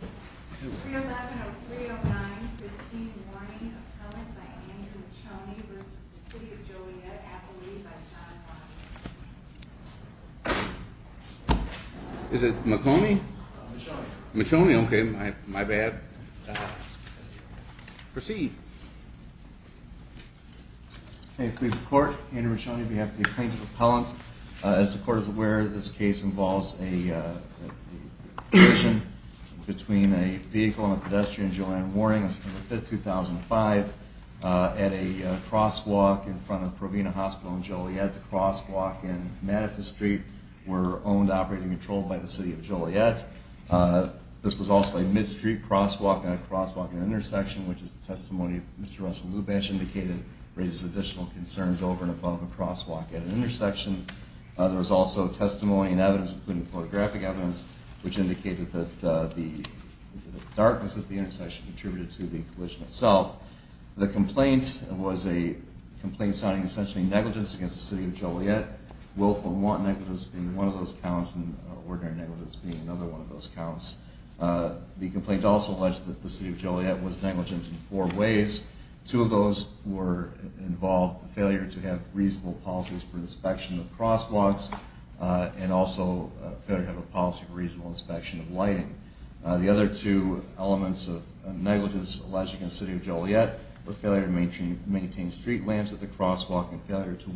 311-0309, 15 warning, appellant by Andrew McConey v. The City of Joliet, appellee by John Watt Is it McConey? McConey. McConey, okay, my bad. Proceed. May it please the Court, Andrew McConey on behalf of the Appellant. As the Court is aware, this case involves a collision between a vehicle and a pedestrian, Joanne Warring, on September 5, 2005, at a crosswalk in front of Provena Hospital in Joliet. The crosswalk and Madison Street were owned, operated and controlled by the City of Joliet. This was also a mid-street crosswalk and a crosswalk at an intersection, which is the testimony of Mr. Russell Lubash indicated raises additional concerns over and above a crosswalk at an intersection. There was also testimony and evidence, including photographic evidence, which indicated that the darkness at the intersection contributed to the collision itself. The complaint was a complaint signing essentially negligence against the City of Joliet. Willful and want negligence being one of those counts and ordinary negligence being another one of those Two of those were involved in failure to have reasonable policies for inspection of crosswalks and also failure to have a policy for reasonable inspection of lighting. The other two elements of negligence alleged against the City of Joliet were failure to maintain street lamps at the crosswalk and failure to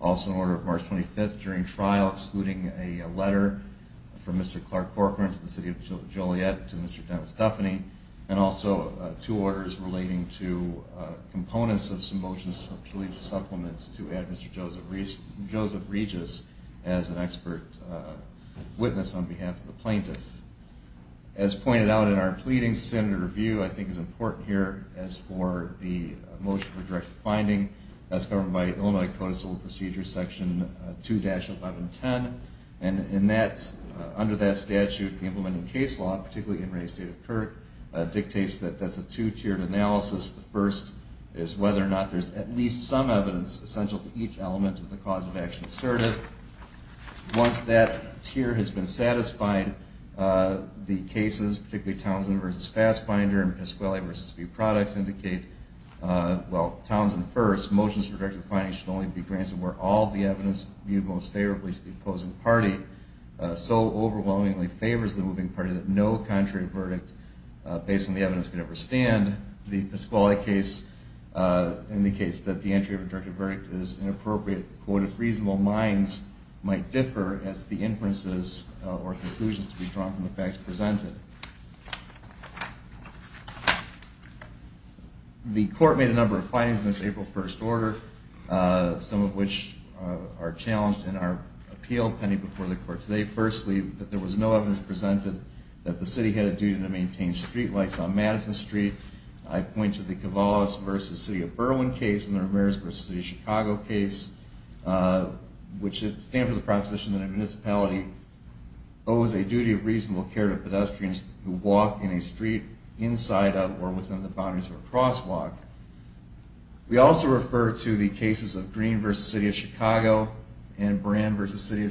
Also in order of March 25, 2005, during trial, excluding a letter from Mr. Clark Corcoran to the City of Joliet to Mr. Dennis Duffany and also two orders relating to components of some motions to add Mr. Joseph Regis as an expert witness on behalf of the plaintiff. As pointed out in our pleading, I think is important here as for the motion for direct finding. That's covered by Illinois Code of Civil Procedure, Section 2-1110. And in that, under that statute, the implementing case law, particularly in Ray's State of Court, dictates that that's a two-tiered analysis. The first is whether or not there's at least some evidence essential to each element of the cause of action asserted. Once that tier has been satisfied, the cases, particularly Townsend v. Fassbinder and Piscuale v. View Products indicate, well, Townsend first, motions for directed finding should only be granted where all the evidence viewed most favorably to the opposing party so overwhelmingly favors the moving party that no contrary verdict based on the evidence could ever stand. The Piscuale case indicates that the entry of a directed verdict is inappropriate, quote, if reasonable minds might differ as the case unfolds. The court made a number of findings in this April 1st order, some of which are challenged in our appeal pending before the court today. Firstly, that there was no evidence presented that the city had a duty to maintain street lights on Madison Street. I point to the Cavallos v. City of Berwyn case and the case of Green v. City of Chicago and Buran v. City of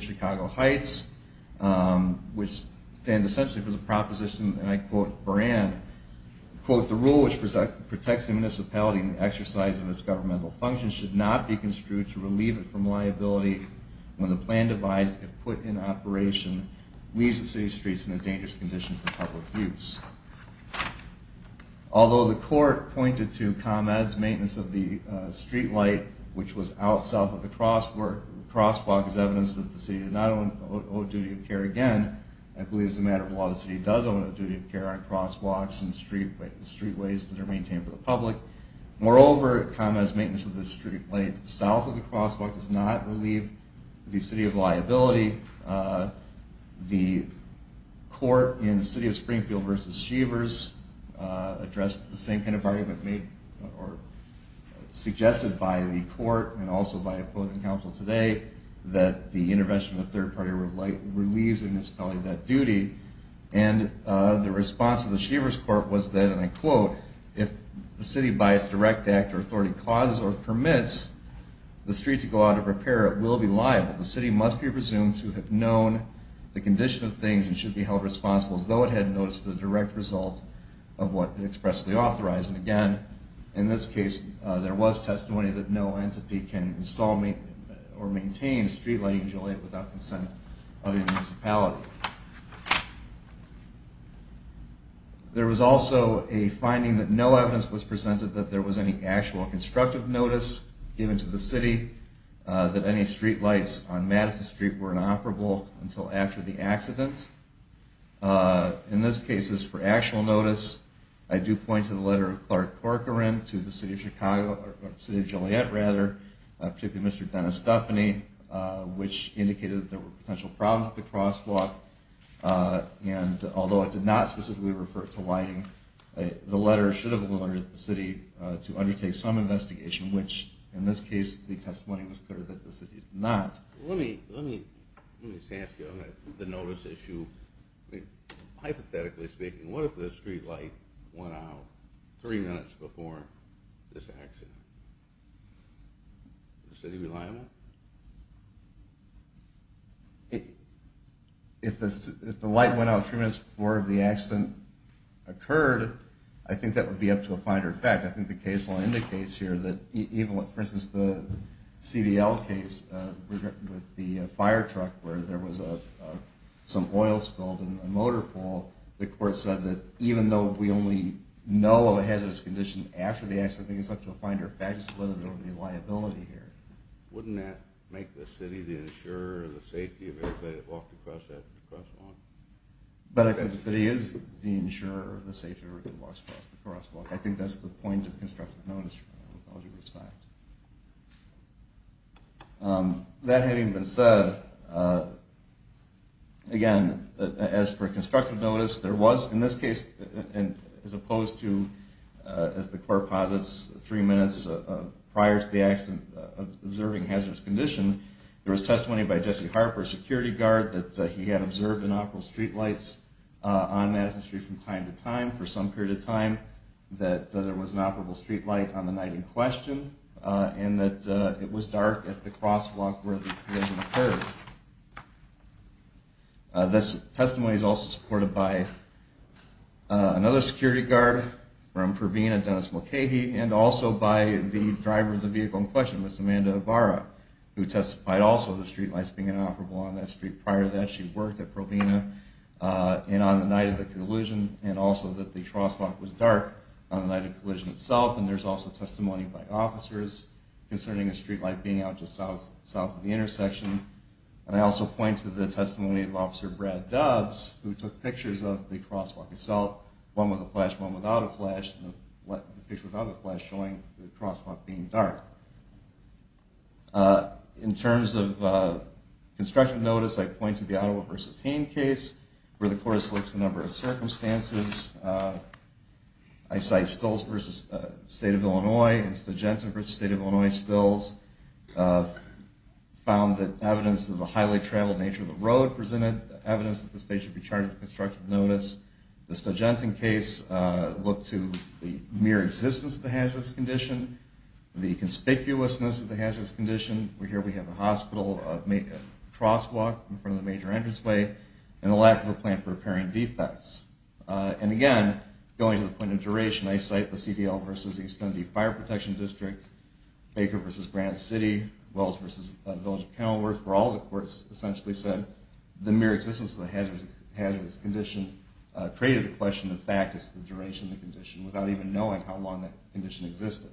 Chicago Heights, which stands essentially for the proposition, and I quote, Buran, quote, the rule which protects the municipality in the exercise of its governmental functions should not be construed to relieve it from liability when the plan devised, if put in use. Although the court pointed to ComEd's maintenance of the street light which was out south of the crosswalk as evidence that the city did not owe duty of care again, I believe as a matter of law the city does owe a duty of care on crosswalks and streetways that are maintained for the public. Moreover, ComEd's maintenance of the street light south of the crosswalk does not relieve the city of liability. The court in City of Springfield v. Chevers addressed the same kind of argument made or suggested by the court and also by opposing counsel today that the intervention of a third party relieves the municipality of that duty, and the response of the Chevers court was that, and I quote, if the city by its direct act or authority causes or permits the street to go out of repair, it will be liable. The city must be presumed to have known the condition of things and should be held responsible as though it had noticed the direct consent of the municipality. There was also a finding that no evidence was presented that there was any actual constructive notice given to the city that any streetlights on Madison Street were inoperable until after the accident. In this case, for actual notice, I do point to the letter of Clark Corcoran to the City of Chicago, or the City of Chicago, that there were potential problems at the crosswalk, and although it did not specifically refer to lighting, the letter should have allowed the city to undertake some investigation, which in this case the testimony was clear that the city did not. Let me ask you on the notice issue. Hypothetically speaking, what if the streetlight went out three minutes before this accident? Is the city reliable? If the light went out three minutes before the accident occurred, I think that would be up to a finer fact. I think the case indicates here that even with, for instance, the CDL case with the fire truck where there was some oil spilled in the motor pool, the court said that even though we only know of a hazardous condition after the accident, I think it's up to a finer fact as to whether there would be liability here. Wouldn't that make the city the insurer of the safety of everybody that walked across that crosswalk? But I think the city is the insurer of the safety of everybody that walks across the crosswalk. I think that's the point of constructive notice. That having been said, again, as for constructive notice, there was in this case, as opposed to, as the court posits, three minutes prior to the accident observing a hazardous condition, there was testimony by Jesse Harper, a security guard, that he had observed inoperable streetlights on Madison Street from time to time for some period of time, that there was an incident on the night in question, and that it was dark at the crosswalk where the collision occurred. This testimony is also supported by another security guard from Provena, Dennis Mulcahy, and also by the driver of the vehicle in question, Ms. Amanda Ibarra, who testified also that the streetlights being inoperable on that street prior to that she worked at Provena, and on the night of the collision, and also that the crosswalk was dark on the night of the collision itself. And there's also testimony by officers concerning a streetlight being out just south of the intersection. And I also point to the testimony of Officer Brad Doves, who took pictures of the crosswalk itself, one with a flash, one without a flash, and a picture without a flash showing the crosswalk being dark. In terms of construction notice, I point to the Ottawa v. Hain case, where the court has looked at a number of circumstances. I cite Stills v. State of Illinois and Stogenton v. State of Illinois. Stills found that evidence of the highly-traveled nature of the road presented evidence that the state should be charged with construction notice. The Stogenton case looked to the mere existence of the hazardous condition, the conspicuousness of the hazardous condition. Here we have a hospital, a crosswalk in front of the major entranceway, and a lack of a plan for repairing defects. And again, going to the point of duration, I cite the CDL v. East Indy Fire Protection District, Baker v. Granite City, Wells v. Village of Kenilworth, where all the courts essentially said the mere existence of the hazardous condition created the question of the duration of the condition without even knowing how long that condition existed.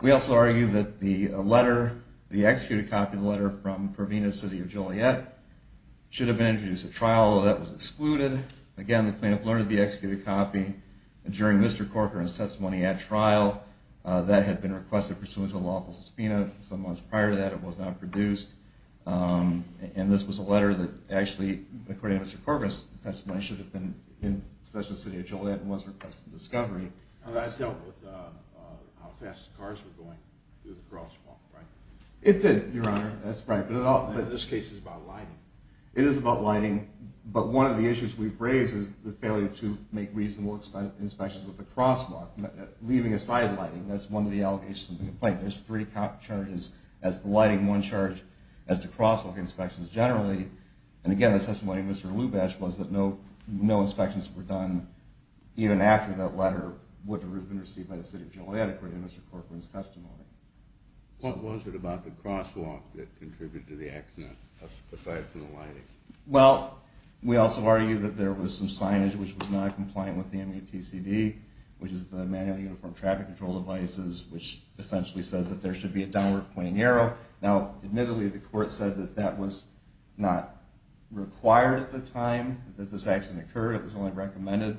We also argue that the letter, the executed copy of the letter from Provena City of Joliet should have been introduced at trial, although that was excluded. Again, the plaintiff learned of the executed copy during Mr. Corcoran's testimony at trial that had been requested pursuant to a lawful subpoena. Some months prior to that, it was not produced. And this was a letter that actually, according to Mr. Corcoran's testimony, should have been in Provena City of Joliet and was requested for discovery. That dealt with how fast the cars were going through the crosswalk, right? It did, Your Honor. That's right. But this case is about lighting. It is about lighting, but one of the issues we've raised is the failure to make reasonable inspections of the crosswalk. Leaving aside lighting, that's one of the allegations of the complaint. There's three charges as to lighting, one charge as to crosswalk inspections generally. And again, the testimony of Mr. Lubash was that no inspections were done even after that letter would have been received by the City of Joliet according to Mr. Corcoran's testimony. What was it about the crosswalk that contributed to the accident, aside from the lighting? Well, we also argue that there was some signage which was not compliant with the MUTCD, which is the Manual Uniform Traffic Control Devices, which essentially said that there should be a downward pointing arrow. Now, admittedly, the court said that that was not required at the time that this accident occurred. It was only recommended.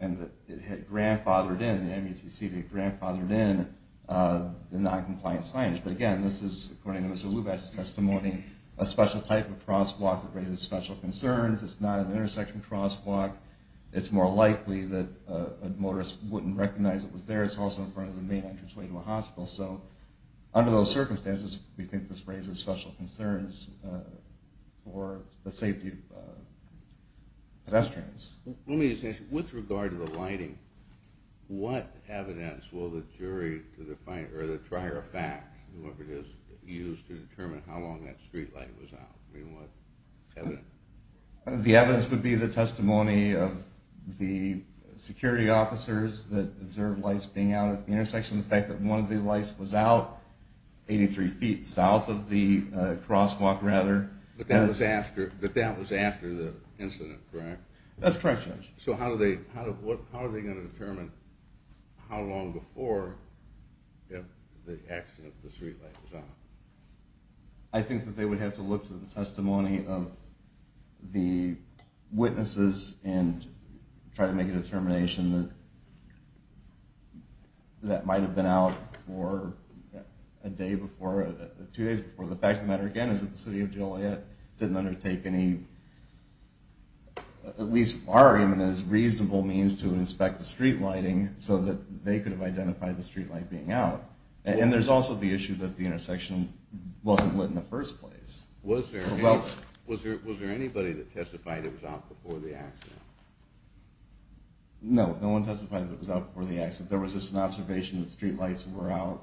And it had grandfathered in, the MUTCD had grandfathered in the noncompliant signage. But again, this is, according to Mr. Lubash's testimony, a special type of crosswalk that raises special concerns. It's not an intersection crosswalk. It's more likely that a motorist wouldn't recognize it was there. It's also in front of the main entranceway to a hospital. So, under those circumstances, we think this raises special concerns for the safety of pedestrians. Let me just ask you, with regard to the lighting, what evidence will the jury, or the trier of facts, use to determine how long that streetlight was out? The evidence would be the testimony of the security officers that observed lights being out at the intersection. The fact that one of the lights was out 83 feet south of the crosswalk, rather. But that was after the incident, correct? That's correct, Judge. So how are they going to determine how long before the accident the streetlight was out? I think that they would have to look to the testimony of the witnesses and try to make a determination that that might have been out a day before, two days before. The fact of the matter, again, is that the City of Joliet didn't undertake any, at least our argument is, reasonable means to inspect the streetlighting, so that they could have identified the streetlight being out. And there's also the issue that the intersection wasn't lit in the first place. Was there anybody that testified it was out before the accident? No, no one testified that it was out before the accident. There was just an observation that streetlights were out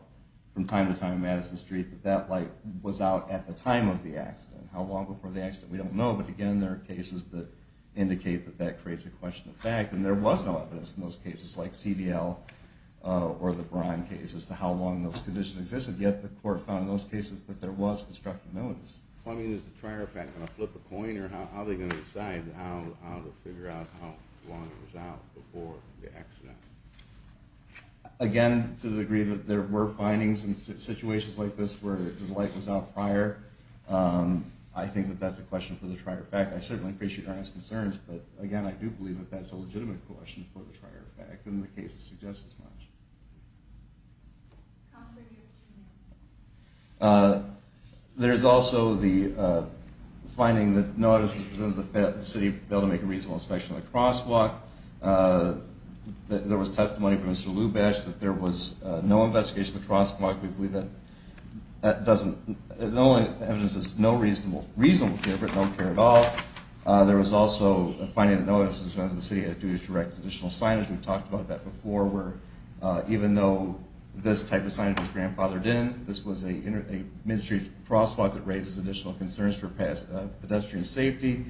from time to time on Madison Street, that that light was out at the time of the accident. How long before the accident, we don't know, but again, there are cases that indicate that that creates a question of fact, and there was no evidence in those cases, like CDL or the Braun case, as to how long those conditions existed. Yet the court found in those cases that there was constructive evidence. I mean, is the Trier effect going to flip a coin, or how are they going to decide how to figure out how long it was out before the accident? Again, to the degree that there were findings in situations like this where the light was out prior, I think that that's a question for the Trier effect. I certainly appreciate your honest concerns, but again, I do believe that that's a legitimate question for the Trier effect, and the cases suggest as much. There's also the finding that no evidence was presented that the city failed to make a reasonable inspection of the crosswalk. There was testimony from Mr. Lubash that there was no investigation of the crosswalk. We believe that that doesn't – the only evidence is no reasonable care, but no care at all. There was also a finding that no evidence was presented that the city had a duty to erect additional signage. We've talked about that before, where even though this type of signage was grandfathered in, this was a minstry crosswalk that raises additional concerns for pedestrian safety.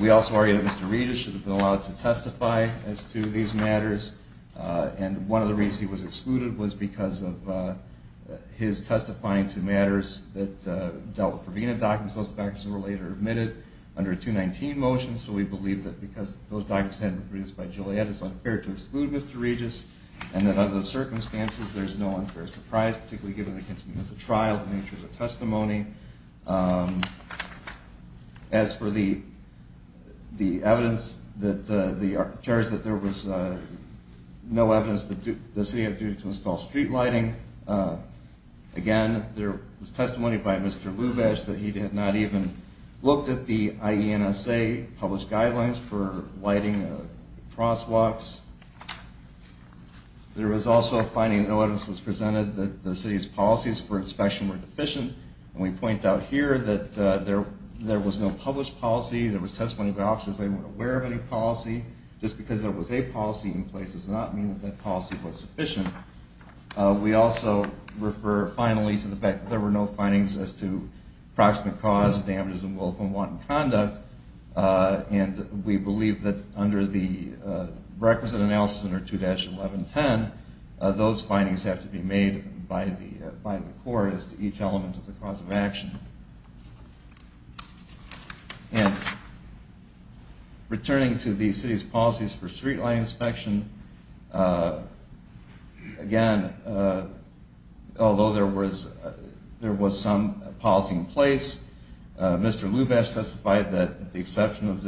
We also argue that Mr. Regis should have been allowed to testify as to these matters, and one of the reasons he was excluded was because of his testifying to matters that dealt with Provena documents. Those documents were later admitted under a 219 motion, so we believe that because those documents hadn't been produced by Joliet, it's unfair to exclude Mr. Regis, and that under those circumstances, there's no unfair surprise, particularly given that it continues as a trial in terms of testimony. As for the evidence, the charge that there was no evidence that the city had a duty to install street lighting, again, there was testimony by Mr. Lubash that he had not even looked at the IENSA published guidelines for lighting crosswalks. There was also a finding that no evidence was presented that the city's policies for inspection were deficient, and we point out here that there was no published policy, there was testimony by officers that they weren't aware of any policy. Just because there was a policy in place does not mean that that policy was sufficient. We also refer finally to the fact that there were no findings as to proximate cause of damages involved from wanton conduct, and we believe that under the requisite analysis under 2-1110, those findings have to be made by the court as to each element of the cause of action. Returning to the city's policies for street lighting inspection, again, although there was some policy in place, Mr. Lubash testified that, with the exception of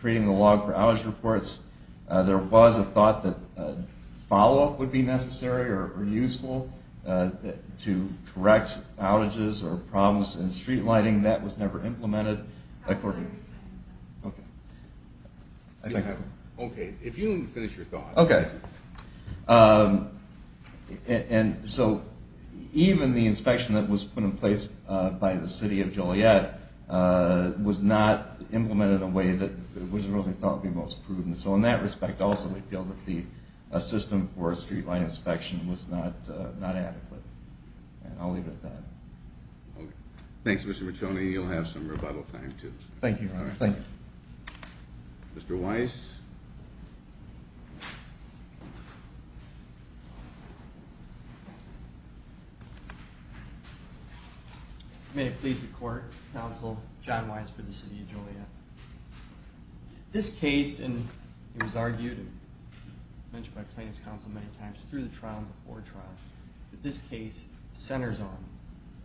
treating the log for outage reports, there was a thought that follow-up would be necessary or useful to correct outages or problems in street lighting. That was never implemented. Okay, if you'll finish your thought. Okay. And so even the inspection that was put in place by the city of Joliet was not implemented in a way that was really thought to be most prudent, so in that respect also we feel that the system for street lighting inspection was not adequate, and I'll leave it at that. Okay. Thanks, Mr. Miconi. You'll have some rebuttal time, too. Thank you, Your Honor. Thank you. Mr. Weiss. May it please the Court, Counsel John Weiss for the city of Joliet. This case, and it was argued and mentioned by plaintiffs' counsel many times through the trial and before trial, that this case centers on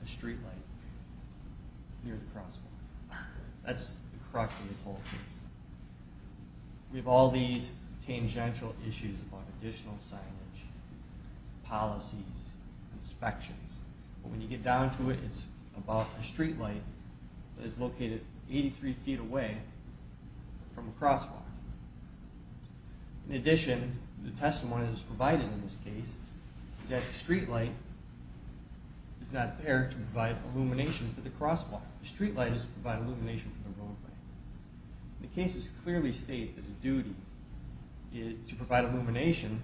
a street light near the crosswalk. That's the crux of this whole case. We have all these tangential issues about additional signage, policies, inspections, but when you get down to it, it's about a street light that is located 83 feet away from a crosswalk. In addition, the testimony that is provided in this case is that the street light is not there to provide illumination for the crosswalk. The street light is to provide illumination for the roadway. The cases clearly state that the duty to provide illumination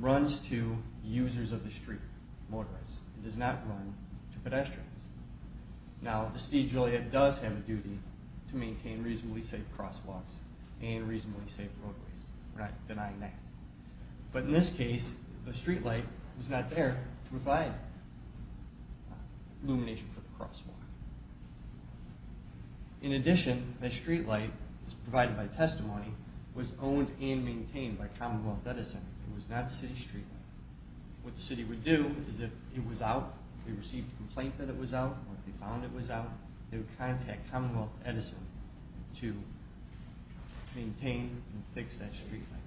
runs to users of the street, motorists. It does not run to pedestrians. Now, the city of Joliet does have a duty to maintain reasonably safe crosswalks and reasonably safe roadways. We're not denying that. But in this case, the street light was not there to provide illumination for the crosswalk. In addition, the street light provided by testimony was owned and maintained by Commonwealth Edison. It was not a city street light. What the city would do is if it was out, if they received a complaint that it was out, or if they found it was out, they would contact Commonwealth Edison to maintain and fix that street light.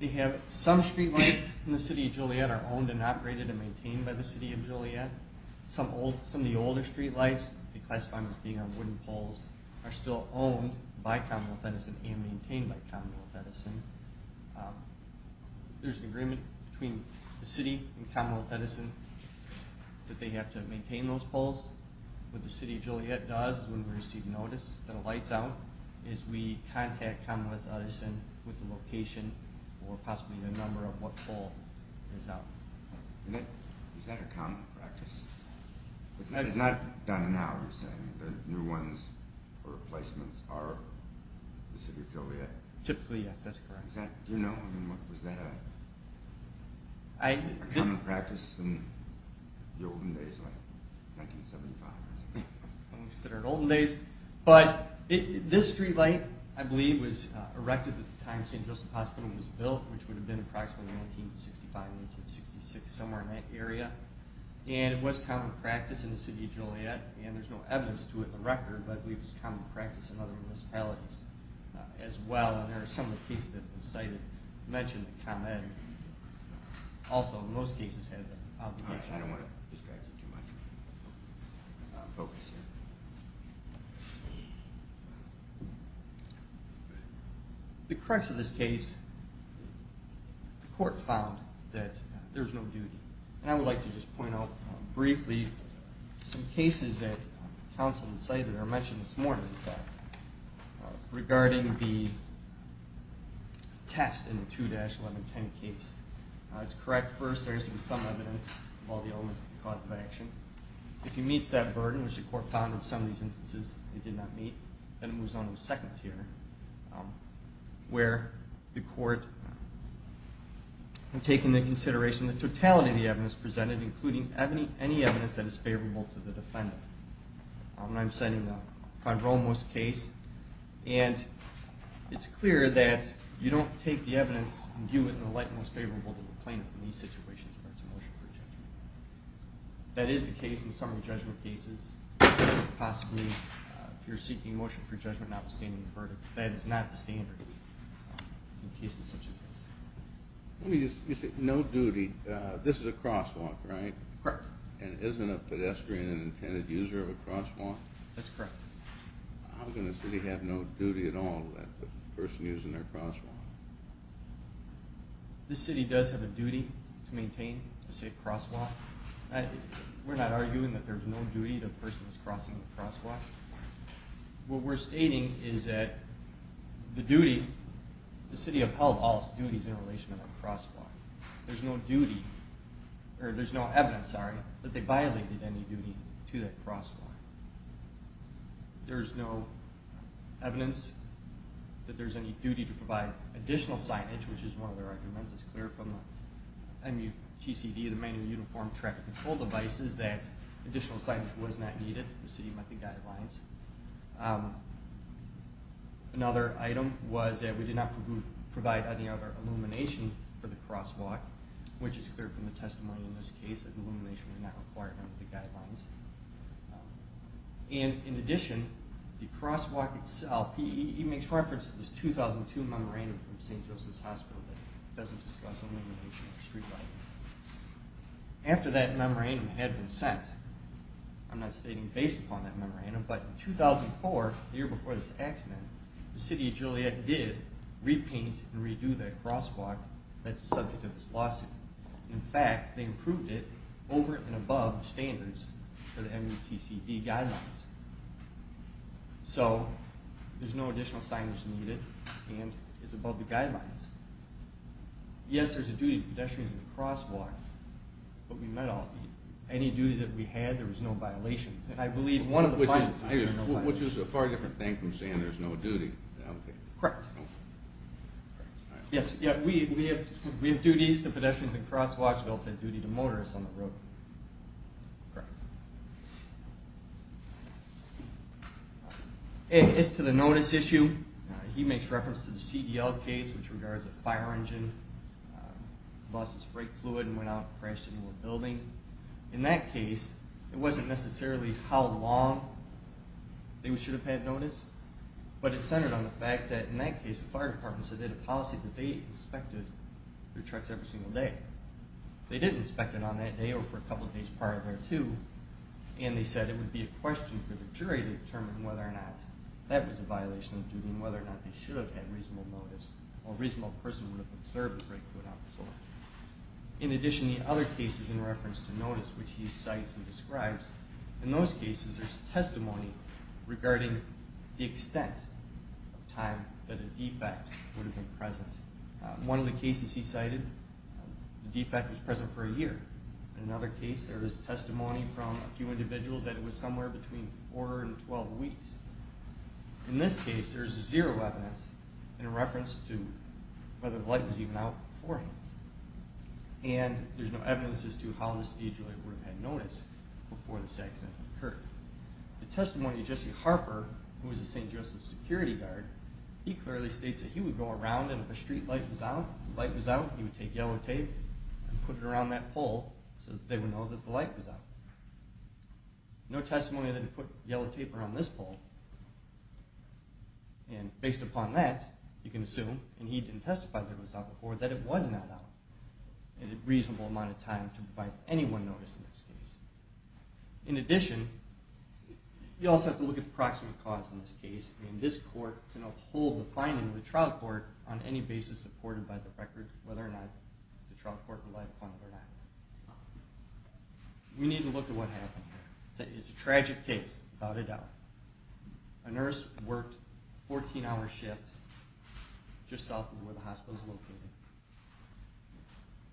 They have some street lights in the city of Joliet are owned and operated and maintained by the city of Joliet. Some of the older street lights, declassified as being on wooden poles, are still owned by Commonwealth Edison and maintained by Commonwealth Edison. There's an agreement between the city and Commonwealth Edison that they have to maintain those poles. What the city of Joliet does when we receive notice that a light's out is we contact Commonwealth Edison with the location or possibly the number of what pole is out. Is that a common practice? It's not done now, you're saying. The new ones or replacements are in the city of Joliet? Typically, yes. That's correct. Do you know, was that a common practice in the olden days, like 1975? I don't consider it olden days, but this street light, I believe, was erected at the time St. Joseph Hospital was built, which would have been approximately 1965-1966, somewhere in that area. It was common practice in the city of Joliet, and there's no evidence to it in the record, but I believe it was common practice in other municipalities as well. There are some cases that have been cited that mention that Commonwealth Edison also, in most cases, had that obligation. I don't want to distract you too much. The crux of this case, the court found that there's no duty. I would like to just point out briefly some cases that counsel cited or mentioned this morning, in fact, regarding the test in the 2-1110 case. It's correct, first, there is some evidence of all the elements of the cause of action. If it meets that burden, which the court found in some of these instances it did not meet, then it moves on to the second tier, where the court, in taking into consideration the totality of the evidence presented, including any evidence that is favorable to the defendant. I'm citing the Fondromos case, and it's clear that you don't take the evidence and view it in the light most favorable to the plaintiff in these situations in regards to motion for judgment. That is the case in some of the judgment cases. Possibly, if you're seeking motion for judgment notwithstanding the verdict, that is not the standard in cases such as this. Let me just say, no duty. This is a crosswalk, right? Correct. And isn't a pedestrian an intended user of a crosswalk? That's correct. How can a city have no duty at all to the person using their crosswalk? This city does have a duty to maintain a safe crosswalk. We're not arguing that there's no duty to the person who's crossing the crosswalk. What we're stating is that the city upheld all its duties in relation to that crosswalk. There's no evidence that they violated any duty to that crosswalk. There's no evidence that there's any duty to provide additional signage, which is one of the recommendations. It's clear from the MUTCD, the Manual Uniform Traffic Control Devices, that additional signage was not needed. The city met the guidelines. Another item was that we did not provide any other illumination for the crosswalk, which is clear from the testimony in this case that illumination was not required under the guidelines. And, in addition, the crosswalk itself, he makes reference to this 2002 memorandum from St. Joseph's Hospital that doesn't discuss illumination or street lighting. After that memorandum had been sent, I'm not stating based upon that memorandum, but in 2004, the year before this accident, the city of Juliette did repaint and redo that crosswalk that's the subject of this lawsuit. In fact, they improved it over and above standards for the MUTCD guidelines. So, there's no additional signage needed, and it's above the guidelines. Yes, there's a duty to pedestrians at the crosswalk, but we met all of these. Any duty that we had, there was no violations. And I believe one of the final times there were no violations. Which is a far different thing from saying there's no duty. Correct. Yes, we have duties to pedestrians at crosswalks, but also a duty to motorists on the road. Correct. As to the notice issue, he makes reference to the CDL case, which regards a fire engine, lost its brake fluid and went out and crashed into a building. In that case, it wasn't necessarily how long they should have had notice, but it centered on the fact that in that case, the fire department said they had a policy that they inspected their trucks every single day. They did inspect it on that day, or for a couple days prior to that too, and they said it would be a question for the jury to determine whether or not that was a violation of duty and whether or not they should have had reasonable notice, or a reasonable person would have observed the brake fluid on the floor. In addition, the other cases in reference to notice, which he cites and describes, in those cases, there's testimony regarding the extent of time that a defect would have been present. One of the cases he cited, the defect was present for a year. In another case, there was testimony from a few individuals that it was somewhere between 4 and 12 weeks. In this case, there's zero evidence in reference to whether the light was even out beforehand. And there's no evidence as to how the stage lawyer would have had notice before this accident occurred. The testimony of Jesse Harper, who was a St. Joseph's security guard, he clearly states that he would go around and if a street light was out, he would take yellow tape and put it around that pole so that they would know that the light was out. No testimony that he put yellow tape around this pole. And based upon that, you can assume, and he didn't testify that it was out before, that it was not out in a reasonable amount of time to provide anyone notice in this case. In addition, you also have to look at the proximate cause in this case. And this court can uphold the finding of the trial court on any basis supported by the record, whether or not the trial court relied upon it or not. We need to look at what happened here. It's a tragic case, without a doubt. A nurse worked a 14-hour shift just south of where the hospital is located.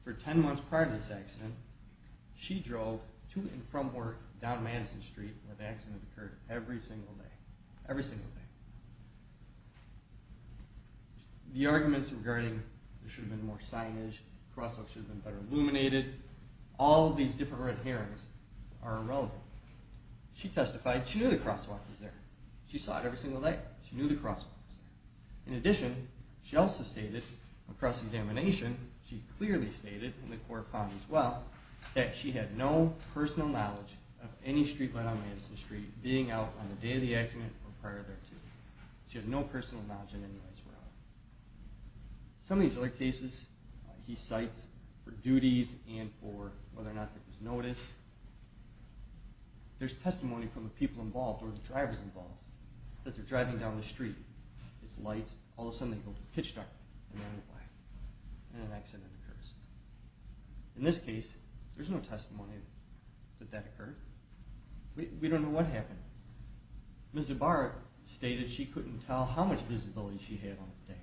For 10 months prior to this accident, she drove to and from work down Madison Street where the accident occurred every single day. Every single day. The arguments regarding there should have been more signage, crosswalks should have been better illuminated, all of these different red herrings are irrelevant. She testified, she knew the crosswalk was there. She saw it every single day. She knew the crosswalk was there. In addition, she also stated across examination, she clearly stated, and the court found as well, that she had no personal knowledge of any streetlight on Madison Street being out on the day of the accident or prior to it. She had no personal knowledge of any lights were out. Some of these other cases he cites for duties and for whether or not there was notice, there's testimony from the people involved or the drivers involved that they're driving down the street, it's light, all of a sudden they go pitch dark, and then it's black, and an accident occurs. In this case, there's no testimony that that occurred. We don't know what happened. Ms. Ibarra stated she couldn't tell how much visibility she had on the day.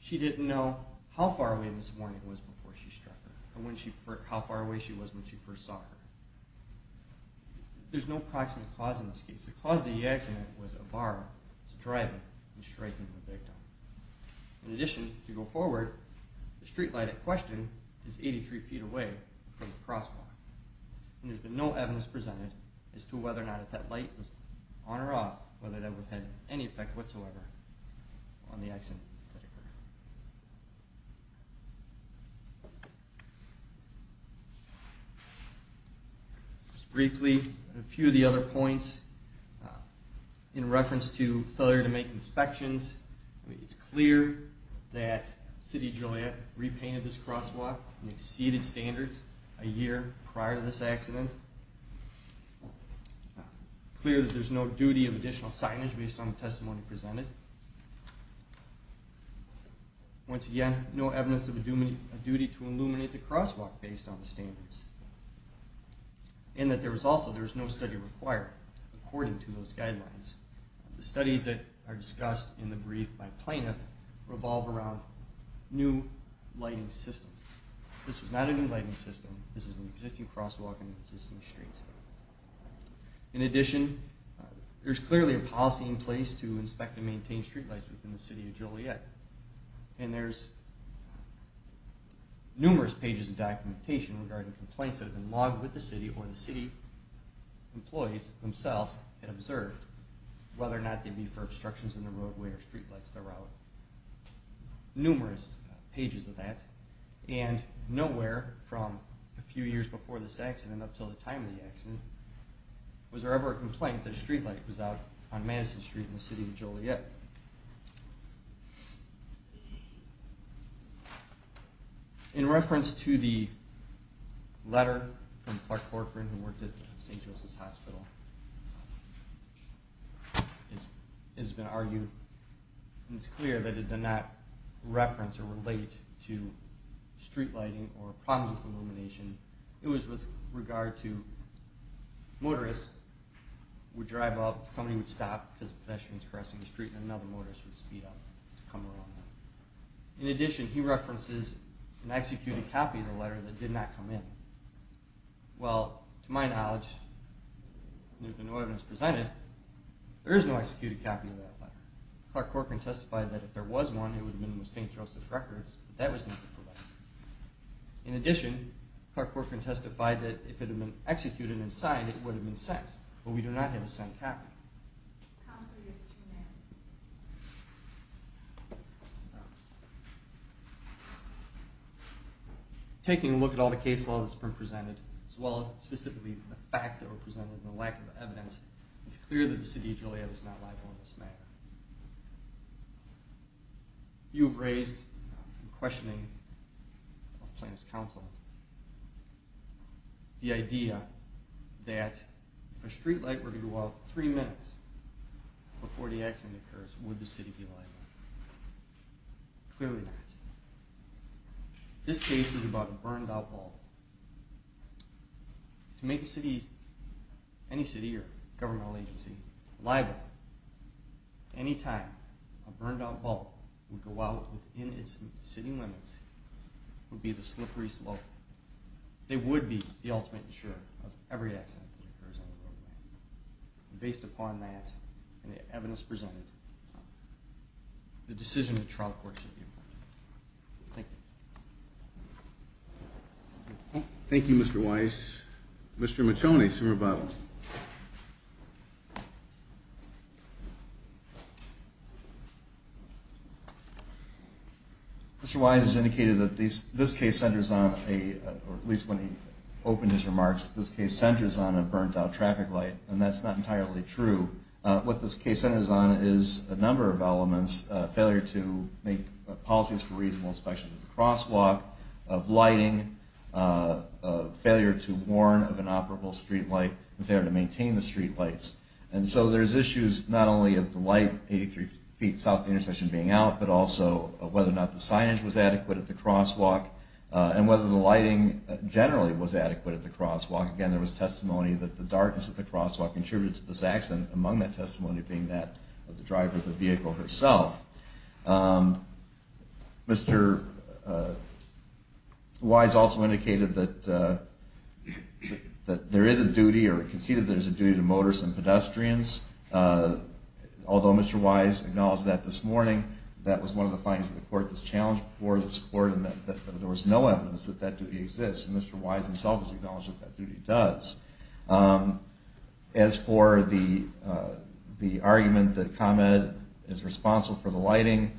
She didn't know how far away Ms. Warnick was before she struck her or how far away she was when she first saw her. There's no proximate cause in this case. The cause of the accident was Ibarra driving and striking the victim. In addition, to go forward, the streetlight at question is 83 feet away from the crosswalk, and there's been no evidence presented as to whether or not if that light was on or off, whether that would have had any effect whatsoever on the accident that occurred. Just briefly, a few of the other points in reference to failure to make inspections, it's clear that City of Joliet repainted this crosswalk and exceeded standards a year prior to this accident. It's clear that there's no duty of additional signage based on the testimony presented. Once again, no evidence of a duty to illuminate the crosswalk based on the standards, and that also there's no study required according to those guidelines. The studies that are discussed in the brief by Plaintiff revolve around new lighting systems. This was not a new lighting system. This is an existing crosswalk and an existing street. In addition, there's clearly a policy in place to inspect and maintain streetlights within the City of Joliet, and there's numerous pages of documentation regarding complaints that have been logged with the city or the city employees themselves had observed whether or not they'd be for obstructions in the roadway or streetlights. Numerous pages of that, and nowhere from a few years before this accident up until the time of the accident was there ever a complaint that a streetlight was out on Madison Street in the City of Joliet. In reference to the letter from Clark Corcoran who worked at St. Joseph's Hospital, it has been argued and it's clear that it did not reference or relate to streetlighting or promised illumination. It was with regard to motorists would drive up, somebody would stop because a pedestrian was crossing the street, and another motorist would speed up to come along. In addition, he references an executed copy of the letter that did not come in. Well, to my knowledge, there is no executed copy of that letter. Clark Corcoran testified that if there was one, it would have been with St. Joseph's Records, but that was not correct. In addition, Clark Corcoran testified that if it had been executed and signed, it would have been sent, but we do not have a signed copy. Counsel, you have two minutes. Taking a look at all the case laws that have been presented, as well as specifically the facts that were presented and the lack of evidence, it's clear that the City of Joliet is not liable in this matter. You have raised, in questioning of plaintiff's counsel, the idea that if a streetlight were to go out three minutes before the accident occurs, would the city be liable? Clearly not. This case is about a burned-out wall. To make any city or governmental agency liable, any time a burned-out wall would go out within its city limits would be the slippery slope. They would be the ultimate insurer of every accident that occurs on the roadway. Based upon that and the evidence presented, the decision of the Trial Court should be approved. Thank you. Thank you, Mr. Weiss. Mr. McToney, summer bottle. Mr. Weiss has indicated that this case centers on a, or at least when he opened his remarks, this case centers on a burned-out traffic light, and that's not entirely true. What this case centers on is a number of elements, failure to make policies for reasonable inspection of the crosswalk, of lighting, failure to warn of an operable streetlight, and failure to maintain the streetlights. And so there's issues not only of the light 83 feet south of the intersection being out, but also of whether or not the signage was adequate at the crosswalk, and whether the lighting generally was adequate at the crosswalk. Again, there was testimony that the darkness at the crosswalk contributed to this accident, among that testimony being that of the driver of the vehicle herself. Mr. Weiss also indicated that there is a duty, or conceded there is a duty, to motorists and pedestrians. Although Mr. Weiss acknowledged that this morning, that was one of the findings of the court that was challenged before this court, and that there was no evidence that that duty exists, and Mr. Weiss himself has acknowledged that that duty does. As for the argument that ComEd is responsible for the lighting,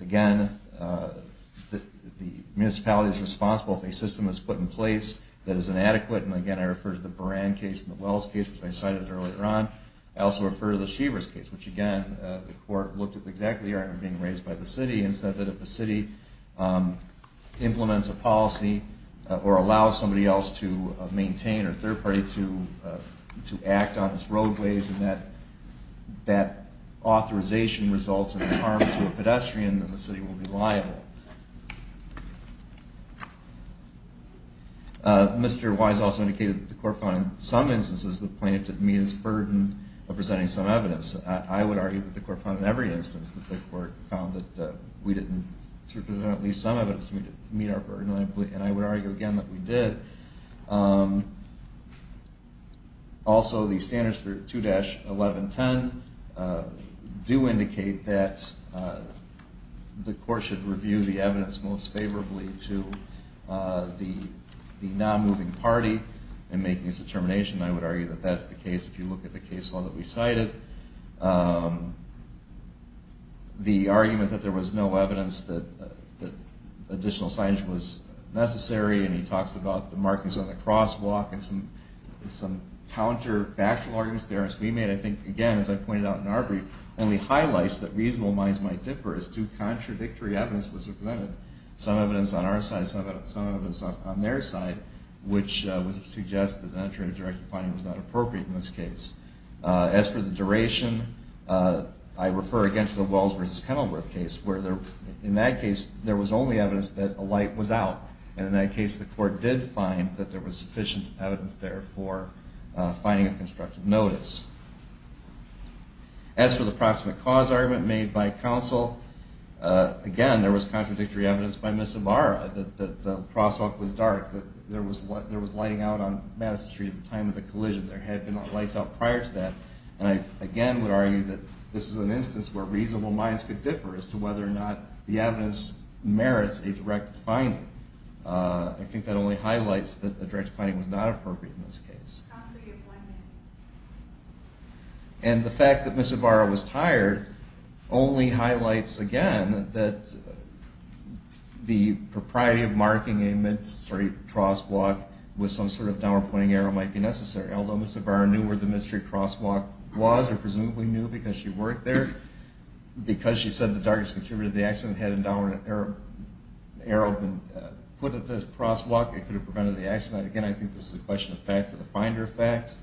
again, the municipality is responsible if a system is put in place that is inadequate, and again I refer to the Buran case and the Wells case, which I cited earlier on. I also refer to the Shevers case, which again, the court looked at exactly the argument being raised by the city, and said that if the city implements a policy or allows somebody else to maintain or a third party to act on its roadways, and that that authorization results in harm to a pedestrian, then the city will be liable. Mr. Weiss also indicated that the court found in some instances that the plaintiff did meet its burden of presenting some evidence. I would argue that the court found in every instance that the court found that we didn't present at least some evidence to meet our burden, and I would argue again that we did. Also, the standards for 2-1110 do indicate that the court should review the evidence most favorably to the non-moving party in making its determination. I would argue that that's the case if you look at the case law that we cited. The argument that there was no evidence that additional signage was necessary, and he talks about the markings on the crosswalk, and some counterfactual arguments there, as we made, I think, again, as I pointed out in our brief, only highlights that reasonable minds might differ as to contradictory evidence was presented. Some evidence on our side, some evidence on their side, which would suggest that a non-trade directive finding was not appropriate in this case. As for the duration, I refer again to the Wells v. Kenilworth case, where in that case there was only evidence that a light was out, and in that case the court did find that there was sufficient evidence there for finding a constructive notice. As for the proximate cause argument made by counsel, again, there was contradictory evidence by Ms. Navarro, that the crosswalk was dark, that there was lighting out on Madison Street at the time of the collision. There had been lights out prior to that, and I again would argue that this is an instance where reasonable minds could differ as to whether or not the evidence merits a directive finding. I think that only highlights that a directive finding was not appropriate in this case. And the fact that Ms. Navarro was tired only highlights again that the propriety of marking a mid-street crosswalk with some sort of downward pointing arrow might be necessary. Although Ms. Navarro knew where the mid-street crosswalk was, or presumably knew because she worked there, because she said the darkest contributor to the accident had a downward arrow put at the crosswalk, it could have prevented the accident. Again, I think this is a question of fact for the finder fact.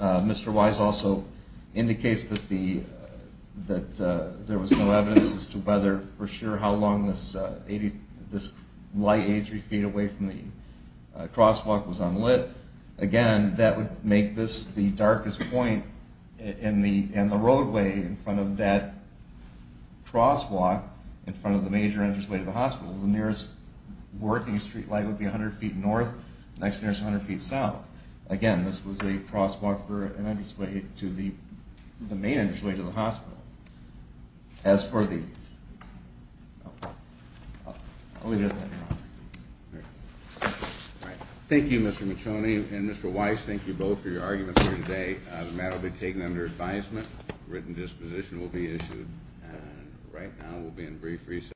Mr. Wise also indicates that there was no evidence as to whether for sure how long this light 83 feet away from the crosswalk was unlit. Again, that would make this the darkest point in the roadway in front of that crosswalk in front of the major entranceway to the hospital, so the nearest working streetlight would be 100 feet north, the next nearest 100 feet south. Again, this was a crosswalk for an entranceway to the main entranceway to the hospital. As for the... Thank you, Mr. Macione, and Mr. Wise, thank you both for your arguments here today. The matter will be taken under advisement, written disposition will be issued, and right now we'll be in brief recess.